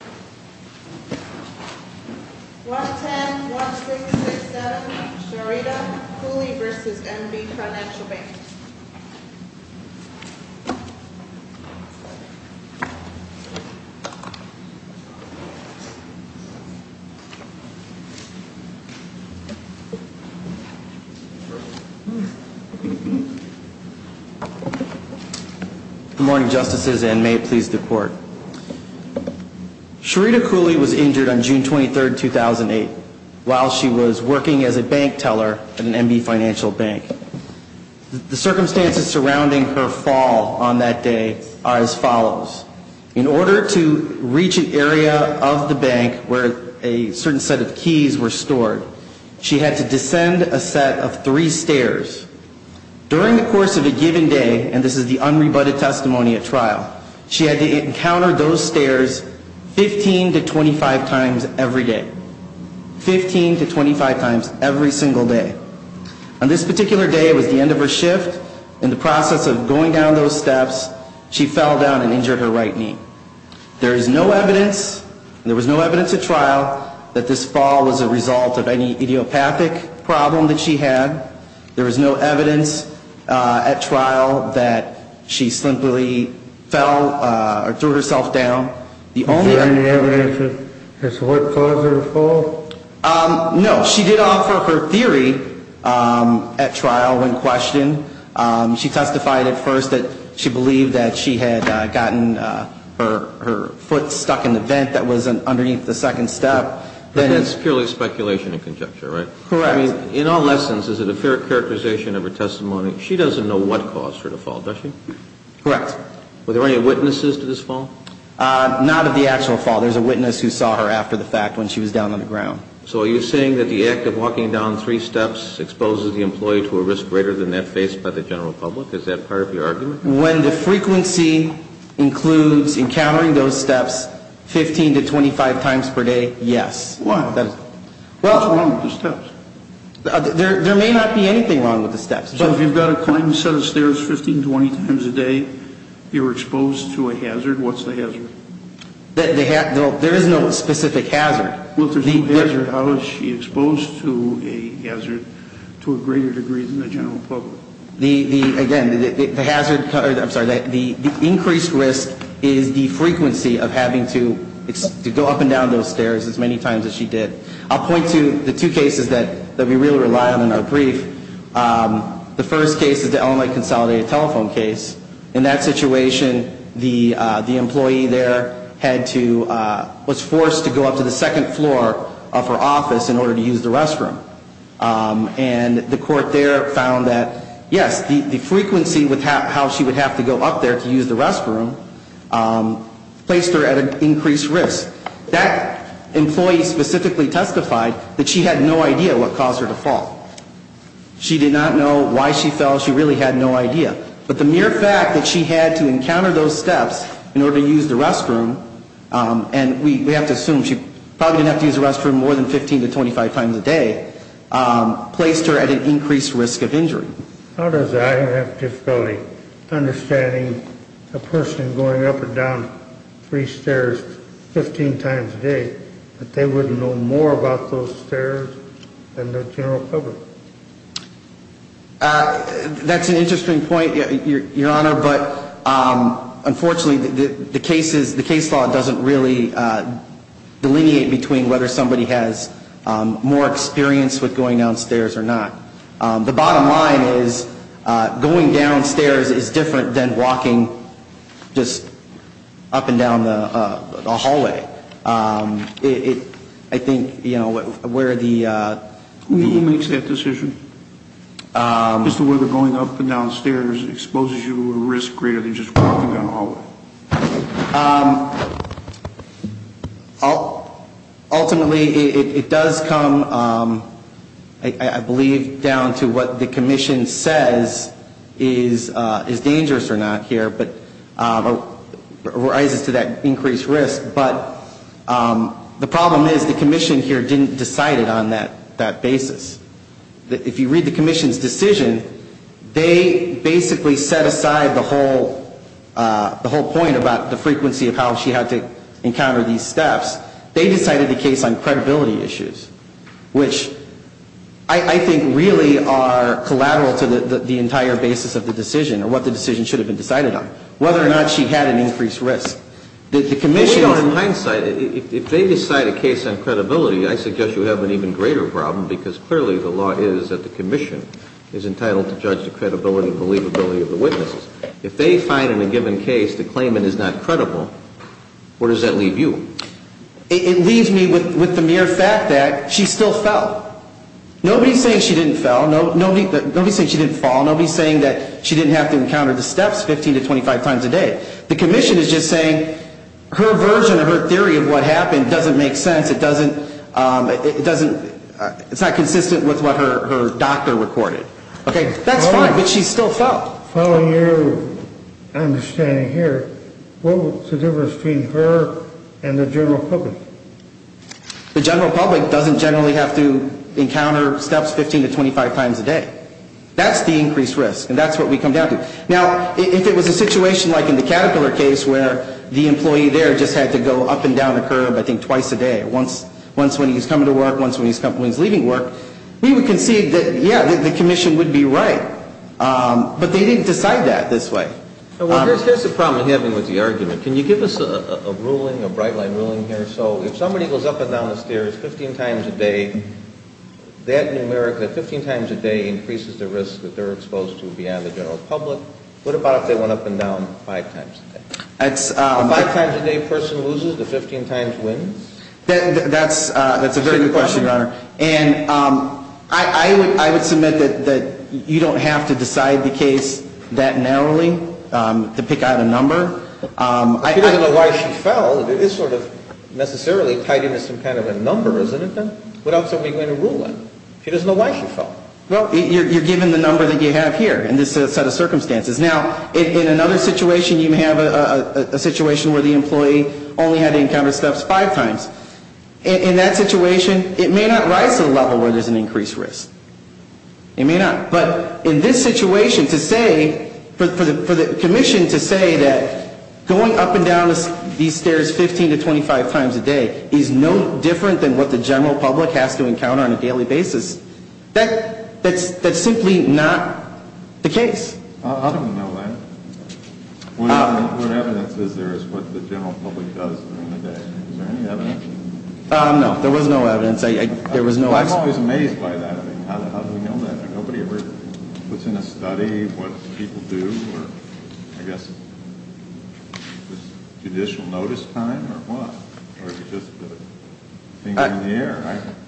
1-10-1667 Sherita Cooley v. NB Financial Bank Good morning, Justices, and may it please the Court. Sherita Cooley was injured on June 23, 2008, while she was working as a bank teller at an NB Financial Bank. The circumstances surrounding her fall on that day are as follows. In order to reach an area of the bank where a certain set of keys were stored, she had to descend a set of three stairs. During the course of a given day, and this is the unrebutted testimony at trial, she had to encounter those stairs 15 to 25 times every day. On this particular day, it was the end of her shift. In the process of going down those steps, she fell down and injured her right knee. There is no evidence, and there was no evidence at trial, that this fall was a result of any idiopathic problem that she had. There was no evidence at trial that she simply fell or threw herself down. Is there any evidence as to what caused her to fall? No. She did offer her theory at trial when questioned. She testified at first that she believed that she had gotten her foot stuck in the vent that was underneath the second step. But that's purely speculation and conjecture, right? Correct. I mean, in all lessons, is it a fair characterization of her testimony? She doesn't know what caused her to fall, does she? Correct. Were there any witnesses to this fall? Not at the actual fall. There's a witness who saw her after the fact when she was down on the ground. So are you saying that the act of walking down three steps exposes the employee to a risk greater than that faced by the general public? Is that part of your argument? When the frequency includes encountering those steps 15 to 25 times per day, yes. Why? What's wrong with the steps? There may not be anything wrong with the steps. So if you've got a client who's done a set of stairs 15, 20 times a day, you're exposed to a hazard. What's the hazard? There is no specific hazard. Well, if there's no hazard, how is she exposed to a hazard to a greater degree than the general public? Again, the increased risk is the frequency of having to go up and down those stairs as many times as she did. I'll point to the two cases that we really rely on in our brief. The first case is the LMI consolidated telephone case. In that situation, the employee there was forced to go up to the second floor of her office in order to use the restroom. And the court there found that, yes, the frequency with how she would have to go up there to use the restroom placed her at an increased risk. That employee specifically testified that she had no idea what caused her to fall. She did not know why she fell. She really had no idea. But the mere fact that she had to encounter those steps in order to use the restroom, and we have to assume she probably didn't have to use the restroom more than 15 to 25 times a day, placed her at an increased risk of injury. How does I have difficulty understanding a person going up and down three stairs 15 times a day, that they wouldn't know more about those stairs than the general public? That's an interesting point, Your Honor. But unfortunately, the case law doesn't really delineate between whether somebody has more experience with going down stairs or not. The bottom line is going down stairs is different than walking just up and down the hallway. I think, you know, where the... Who makes that decision as to whether going up and down stairs exposes you to a risk greater than just walking down a hallway? No. Ultimately, it does come, I believe, down to what the commission says is dangerous or not here, but rises to that increased risk. But the problem is the commission here didn't decide it on that basis. If you read the commission's decision, they basically set aside the whole point about the frequency of how she had to encounter these steps. They decided the case on credibility issues, which I think really are collateral to the entire basis of the decision, or what the decision should have been decided on, whether or not she had an increased risk. Well, you know, in hindsight, if they decide a case on credibility, I suggest you have an even greater problem because clearly the law is that the commission is entitled to judge the credibility and believability of the witnesses. If they find in a given case the claimant is not credible, where does that leave you? It leaves me with the mere fact that she still fell. Nobody's saying she didn't fall. Nobody's saying that she didn't have to encounter the steps 15 to 25 times a day. The commission is just saying her version of her theory of what happened doesn't make sense. It's not consistent with what her doctor recorded. That's fine, but she still fell. Following your understanding here, what was the difference between her and the general public? The general public doesn't generally have to encounter steps 15 to 25 times a day. That's the increased risk, and that's what we come down to. Now, if it was a situation like in the Caterpillar case where the employee there just had to go up and down the curb, I think, twice a day, once when he was coming to work, once when he was leaving work, we would concede that, yeah, the commission would be right. But they didn't decide that this way. Here's the problem we're having with the argument. Can you give us a ruling, a bright-line ruling here? So if somebody goes up and down the stairs 15 times a day, that numeric, that 15 times a day, increases the risk that they're exposed to beyond the general public. What about if they went up and down five times a day? If a five-times-a-day person loses, the 15 times wins? That's a very good question, Your Honor. And I would submit that you don't have to decide the case that narrowly to pick out a number. She doesn't know why she fell. It is sort of necessarily tied into some kind of a number, isn't it, then? What else are we going to rule on? She doesn't know why she fell. Well, you're given the number that you have here in this set of circumstances. Now, in another situation, you have a situation where the employee only had to encounter steps five times. In that situation, it may not rise to the level where there's an increased risk. It may not. But in this situation, to say, for the commission to say that going up and down these stairs 15 to 25 times a day is no different than what the general public has to encounter on a daily basis, that's simply not the case. I don't know that. What evidence is there as to what the general public does during the day? Is there any evidence? No. There was no evidence. I'm always amazed by that. I mean, how do we know that? Nobody ever puts in a study what people do or, I guess, judicial notice time or what? Or is it just a finger in the air?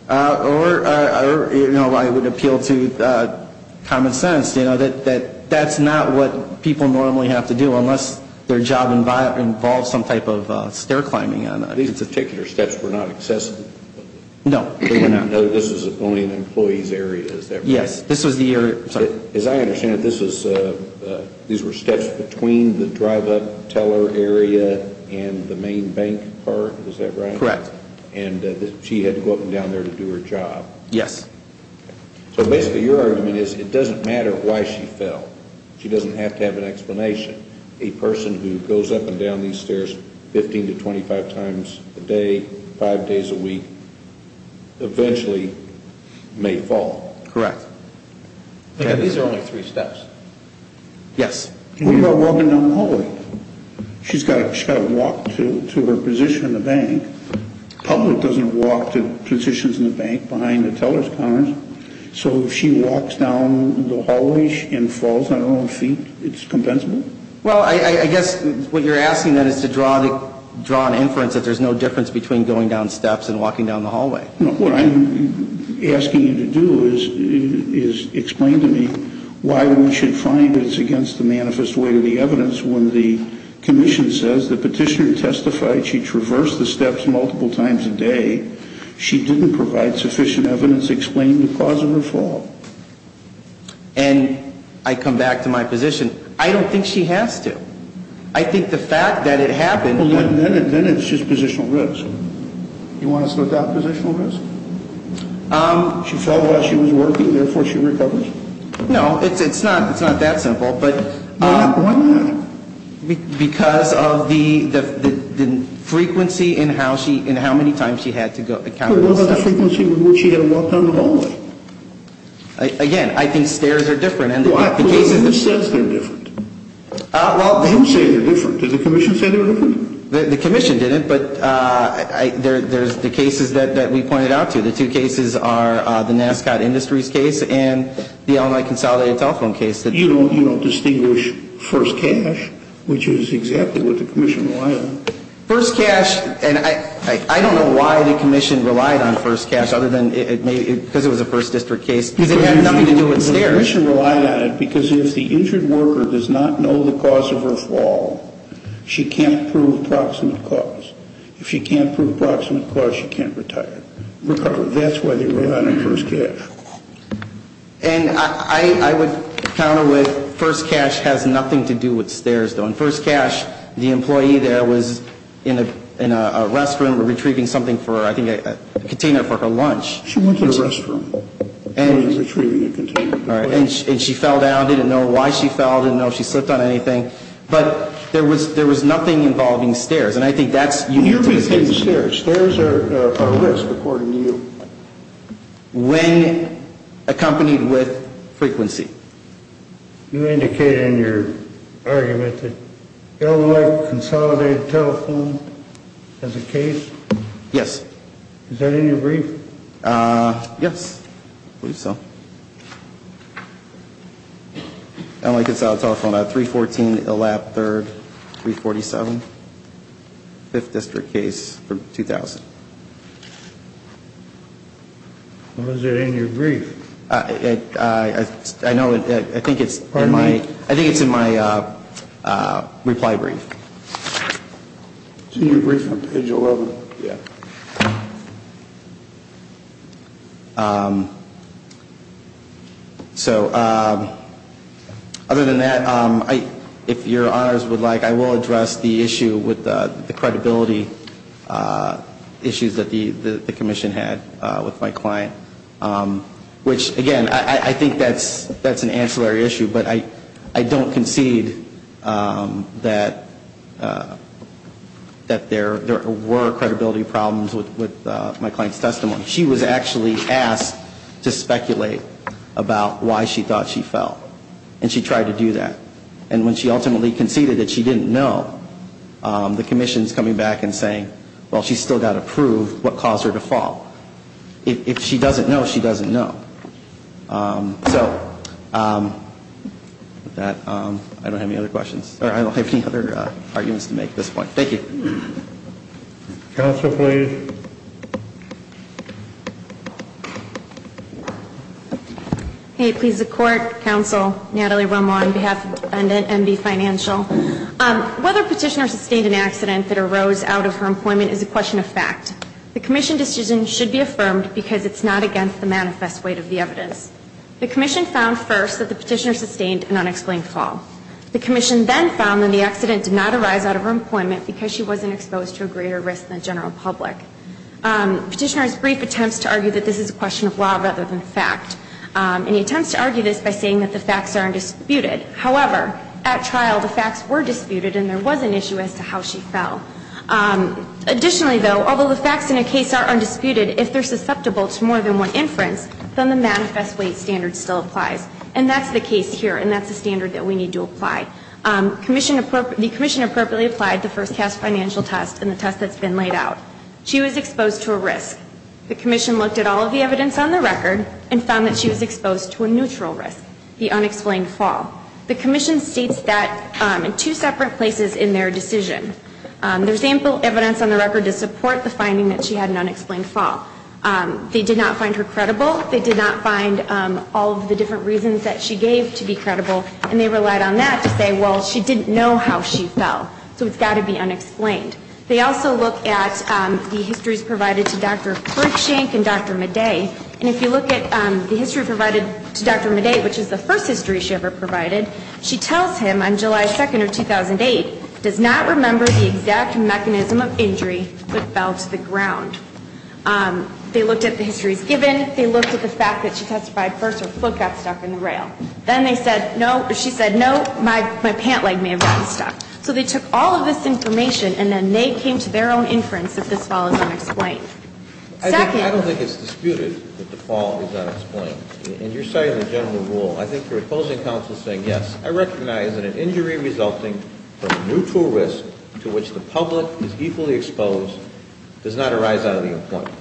Or, you know, I would appeal to common sense, you know, that that's not what people normally have to do, unless their job involves some type of stair climbing. These particular steps were not accessible? No, they were not. As I understand it, these were steps between the drive-up teller area and the main bank part. Is that right? Correct. And she had to go up and down there to do her job. Yes. So basically your argument is it doesn't matter why she fell. She doesn't have to have an explanation. A person who goes up and down these stairs 15 to 25 times a day, five days a week, eventually may fall. Correct. These are only three steps. Yes. What about walking down the hallway? She's got to walk to her position in the bank. The public doesn't walk to positions in the bank behind the teller's cars. So if she walks down the hallway and falls on her own feet, it's compensable? Well, I guess what you're asking then is to draw an inference that there's no difference between going down steps and walking down the hallway. No. What I'm asking you to do is explain to me why one should find that it's against the manifest way to the evidence when the commission says the petitioner testified she traversed the steps multiple times a day. She didn't provide sufficient evidence to explain the cause of her fall. And I come back to my position. I don't think she has to. I think the fact that it happened. Then it's just positional risk. You want us to adopt positional risk? She fell while she was working, therefore she recovers? No, it's not that simple. Why not? Because of the frequency and how many times she had to go. What was the frequency with which she had to walk down the hallway? Again, I think stairs are different. Who says they're different? Who says they're different? Did the commission say they were different? The commission didn't, but there's the cases that we pointed out to. The two cases are the Nascot Industries case and the Illinois Consolidated Telephone case. You don't distinguish first cash, which is exactly what the commission relied on. First cash, and I don't know why the commission relied on first cash other than because it was a first district case. Because it had nothing to do with stairs. The commission relied on it because if the injured worker does not know the cause of her fall, she can't prove proximate cause. If she can't prove proximate cause, she can't recover. That's why they relied on first cash. And I would counter with first cash has nothing to do with stairs, though. In first cash, the employee there was in a restroom retrieving something for her, I think a container for her lunch. She went to the restroom and was retrieving a container. And she fell down, didn't know why she fell, didn't know if she slipped on anything. But there was nothing involving stairs. And I think that's unique to this case. Stairs are a risk, according to you. When accompanied with frequency. You indicated in your argument that Illinois Consolidated Telephone has a case? Yes. Is that in your brief? Yes. I believe so. Illinois Consolidated Telephone, 314 Elap 3rd, 347. Fifth district case from 2000. Is it in your brief? I know. I think it's in my reply brief. It's in your brief on page 11. Yeah. So other than that, if your honors would like, I will address the issue with the credibility issues that the commission had with my client. Which, again, I think that's an ancillary issue. But I don't concede that there were credibility problems with my client's testimony. She was actually asked to speculate about why she thought she fell. And she tried to do that. And when she ultimately conceded that she didn't know, the commission's coming back and saying, well, she's still got to prove what caused her to fall. If she doesn't know, she doesn't know. So with that, I don't have any other questions. Or I don't have any other arguments to make at this point. Thank you. Counsel, please. Hey, please, the court, counsel, Natalie Romo on behalf of NB Financial. Whether Petitioner sustained an accident that arose out of her employment is a question of fact. The commission decision should be affirmed because it's not against the manifest weight of the evidence. The commission found first that the petitioner sustained an unexplained fall. The commission then found that the accident did not arise out of her employment because she wasn't exposed to a greater risk than general public. Petitioner's brief attempts to argue that this is a question of law rather than fact. And he attempts to argue this by saying that the facts are undisputed. However, at trial, the facts were disputed and there was an issue as to how she fell. Additionally, though, although the facts in a case are undisputed, if they're susceptible to more than one inference, then the manifest weight standard still applies. And that's the case here, and that's the standard that we need to apply. The commission appropriately applied the first cast financial test and the test that's been laid out. She was exposed to a risk. The commission looked at all of the evidence on the record and found that she was exposed to a neutral risk, the unexplained fall. The commission states that in two separate places in their decision. There's ample evidence on the record to support the finding that she had an unexplained fall. They did not find her credible. They did not find all of the different reasons that she gave to be credible. And they relied on that to say, well, she didn't know how she fell, so it's got to be unexplained. They also look at the histories provided to Dr. Frickshank and Dr. Madej. And if you look at the history provided to Dr. Madej, which is the first history she ever provided, she tells him on July 2nd of 2008, does not remember the exact mechanism of injury that fell to the ground. They looked at the histories given. They looked at the fact that she testified first her foot got stuck in the rail. Then they said, no, she said, no, my pant leg may have gotten stuck. So they took all of this information, and then they came to their own inference that this fall is unexplained. Second. I don't think it's disputed that the fall is unexplained. And you're citing the general rule. I think you're opposing counsel saying yes. I recognize that an injury resulting from neutral risk to which the public is equally exposed does not arise out of the employment.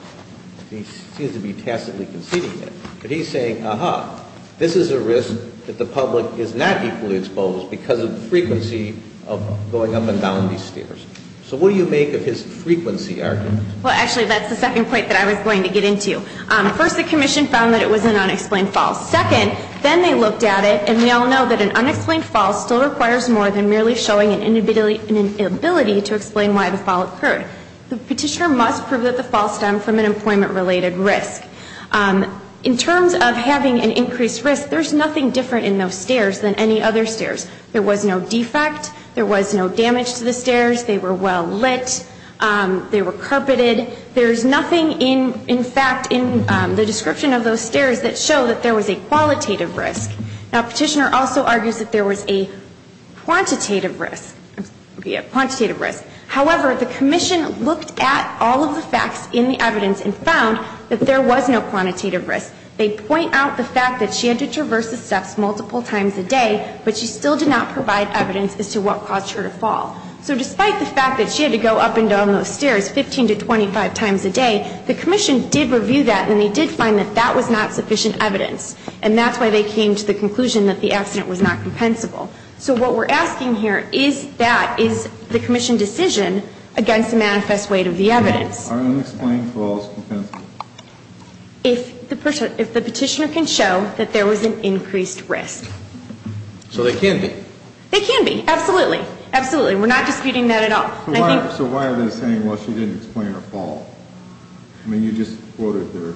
He seems to be tacitly conceding that. But he's saying, aha, this is a risk that the public is not equally exposed because of the frequency of going up and down these stairs. So what do you make of his frequency argument? Well, actually, that's the second point that I was going to get into. First, the commission found that it was an unexplained fall. Second, then they looked at it. And we all know that an unexplained fall still requires more than merely showing an inability to explain why the fall occurred. The petitioner must prove that the fall stemmed from an employment-related risk. In terms of having an increased risk, there's nothing different in those stairs than any other stairs. There was no defect. There was no damage to the stairs. They were well lit. They were carpeted. There's nothing, in fact, in the description of those stairs that show that there was a qualitative risk. Now, the petitioner also argues that there was a quantitative risk. However, the commission looked at all of the facts in the evidence and found that there was no quantitative risk. They point out the fact that she had to traverse the steps multiple times a day, but she still did not provide evidence as to what caused her to fall. So despite the fact that she had to go up and down those stairs 15 to 25 times a day, the commission did review that, and they did find that that was not sufficient evidence. And that's why they came to the conclusion that the accident was not compensable. So what we're asking here is that, is the commission decision against the manifest weight of the evidence. Are unexplained falls compensable? If the petitioner can show that there was an increased risk. So they can be? They can be, absolutely. We're not disputing that at all. So why are they saying, well, she didn't explain her fall? I mean, you just quoted her.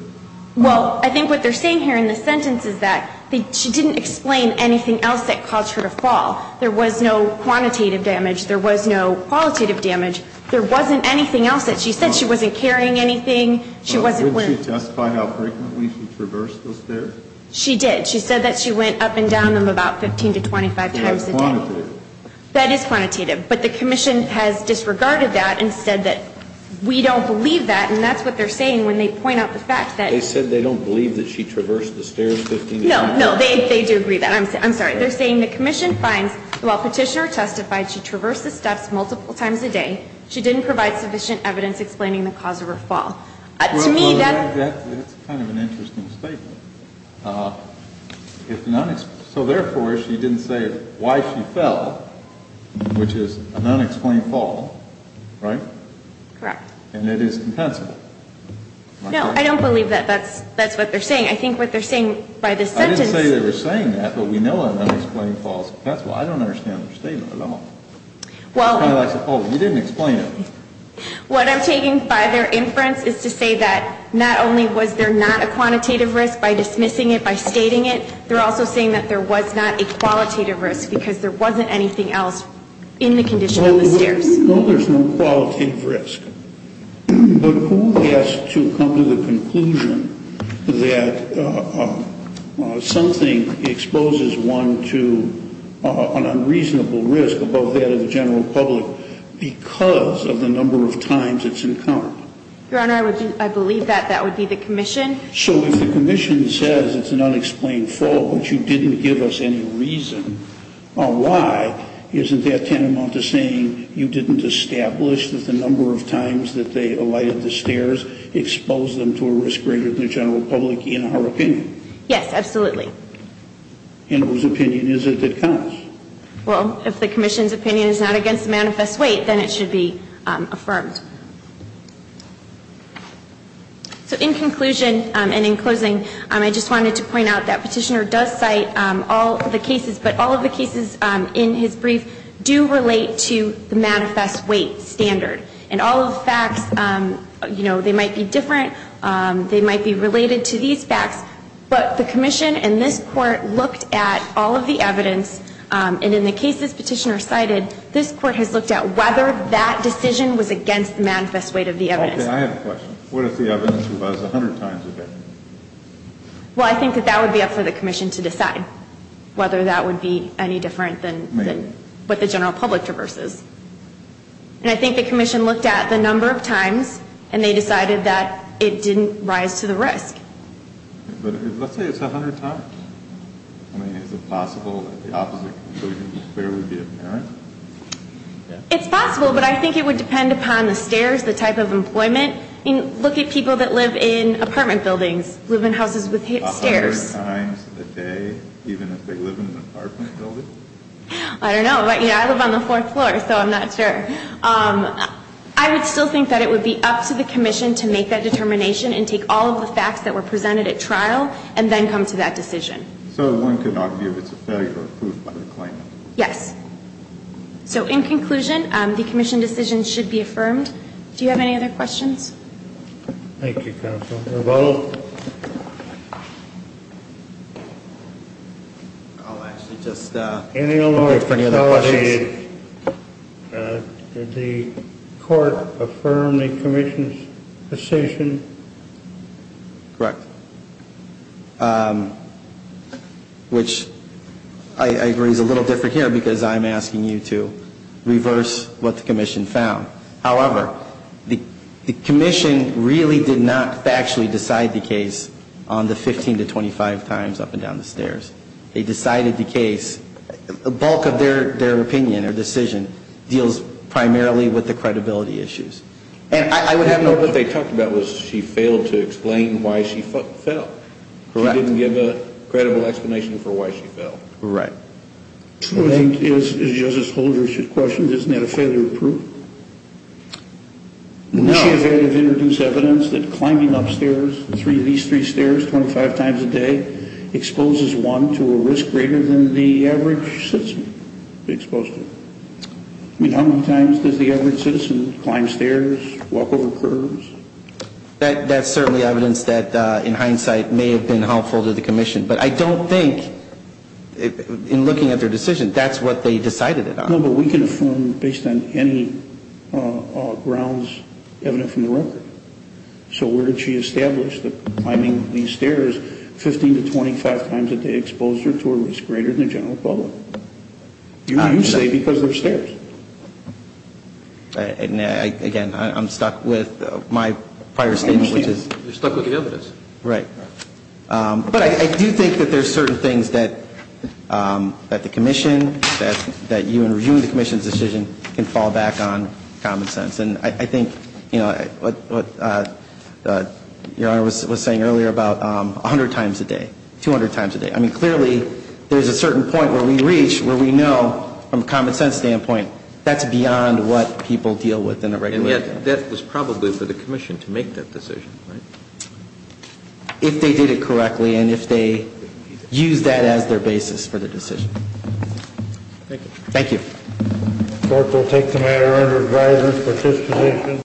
Well, I think what they're saying here in the sentence is that she didn't explain anything else that caused her to fall. There was no quantitative damage. There was no qualitative damage. There wasn't anything else that she said. She wasn't carrying anything. She wasn't. Didn't she testify how frequently she traversed those stairs? She did. She said that she went up and down them about 15 to 25 times a day. That is quantitative. But the commission has disregarded that and said that we don't believe that. And that's what they're saying when they point out the fact that. They said they don't believe that she traversed the stairs 15 times. No, no, they do agree that. I'm sorry. They're saying the commission finds while petitioner testified she traversed the steps multiple times a day, she didn't provide sufficient evidence explaining the cause of her fall. To me, that. That's kind of an interesting statement. So, therefore, she didn't say why she fell, which is an unexplained fall, right? Correct. And it is compensable. No, I don't believe that. That's what they're saying. I think what they're saying by this sentence. I didn't say they were saying that, but we know an unexplained fall is compensable. I don't understand their statement at all. Well. It's kind of like, oh, you didn't explain it. What I'm taking by their inference is to say that not only was there not a quantitative risk by dismissing it, by stating it, they're also saying that there was not a qualitative risk because there wasn't anything else in the condition of the stairs. No, there's no qualitative risk. But who has to come to the conclusion that something exposes one to an unreasonable risk above that of the general public because of the number of times it's encountered? Your Honor, I believe that that would be the commission. So if the commission says it's an unexplained fall, but you didn't give us any reason on why, isn't that tantamount to saying you didn't establish that the number of times that they alighted the stairs exposed them to a risk greater than the general public in her opinion? Yes, absolutely. And whose opinion is it that counts? Well, if the commission's opinion is not against the manifest weight, then it should be affirmed. So in conclusion and in closing, I just wanted to point out that Petitioner does cite all of the cases, but all of the cases in his brief do relate to the manifest weight standard. And all of the facts, you know, they might be different. They might be related to these facts. But the commission and this court looked at all of the evidence, and in the cases Petitioner cited, this court has looked at whether that decision was against the manifest weight of the evidence. Okay, I have a question. What if the evidence was 100 times different? Well, I think that that would be up for the commission to decide, whether that would be any different than what the general public traverses. And I think the commission looked at the number of times, and they decided that it didn't rise to the risk. But let's say it's 100 times. I mean, is it possible that the opposite conclusion would clearly be apparent? It's possible, but I think it would depend upon the stairs, the type of employment. I mean, look at people that live in apartment buildings, live in houses with stairs. A hundred times a day, even if they live in an apartment building? I don't know. Yeah, I live on the fourth floor, so I'm not sure. I would still think that it would be up to the commission to make that determination and take all of the facts that were presented at trial and then come to that decision. So one could argue it's a failure of proof by the claimant? Yes. So in conclusion, the commission decision should be affirmed. Do you have any other questions? Thank you, Counsel. Mr. Votel? I'll actually just wait for any other questions. Did the court affirm the commission's decision? Correct. Which I agree is a little different here because I'm asking you to reverse what the commission found. However, the commission really did not factually decide the case on the 15 to 25 times up and down the stairs. They decided the case, the bulk of their opinion or decision deals primarily with the credibility issues. And I would have no question. What they talked about was she failed to explain why she fell. Correct. She didn't give a credible explanation for why she fell. Correct. I think, as Justice Holder should question, isn't that a failure of proof? No. She failed to introduce evidence that climbing up stairs, these three stairs, 25 times a day, exposes one to a risk greater than the average citizen exposed to it. I mean, how many times does the average citizen climb stairs, walk over curbs? That's certainly evidence that, in hindsight, may have been helpful to the commission. But I don't think, in looking at their decision, that's what they decided it on. No, but we can affirm based on any grounds evident from the record. So where did she establish that climbing these stairs 15 to 25 times a day exposed her to a risk greater than the general public? You say because they're stairs. Again, I'm stuck with my prior statement, which is... You're stuck with the evidence. Right. But I do think that there's certain things that the commission, that you in reviewing the commission's decision, can fall back on common sense. And I think, you know, what Your Honor was saying earlier about 100 times a day, 200 times a day. I mean, clearly there's a certain point where we reach where we know, from a common sense standpoint, that's beyond what people deal with in a regular day. And yet that was probably for the commission to make that decision, right? If they did it correctly and if they used that as their basis for the decision. Thank you. Thank you. The court will take the matter under advisory for this position.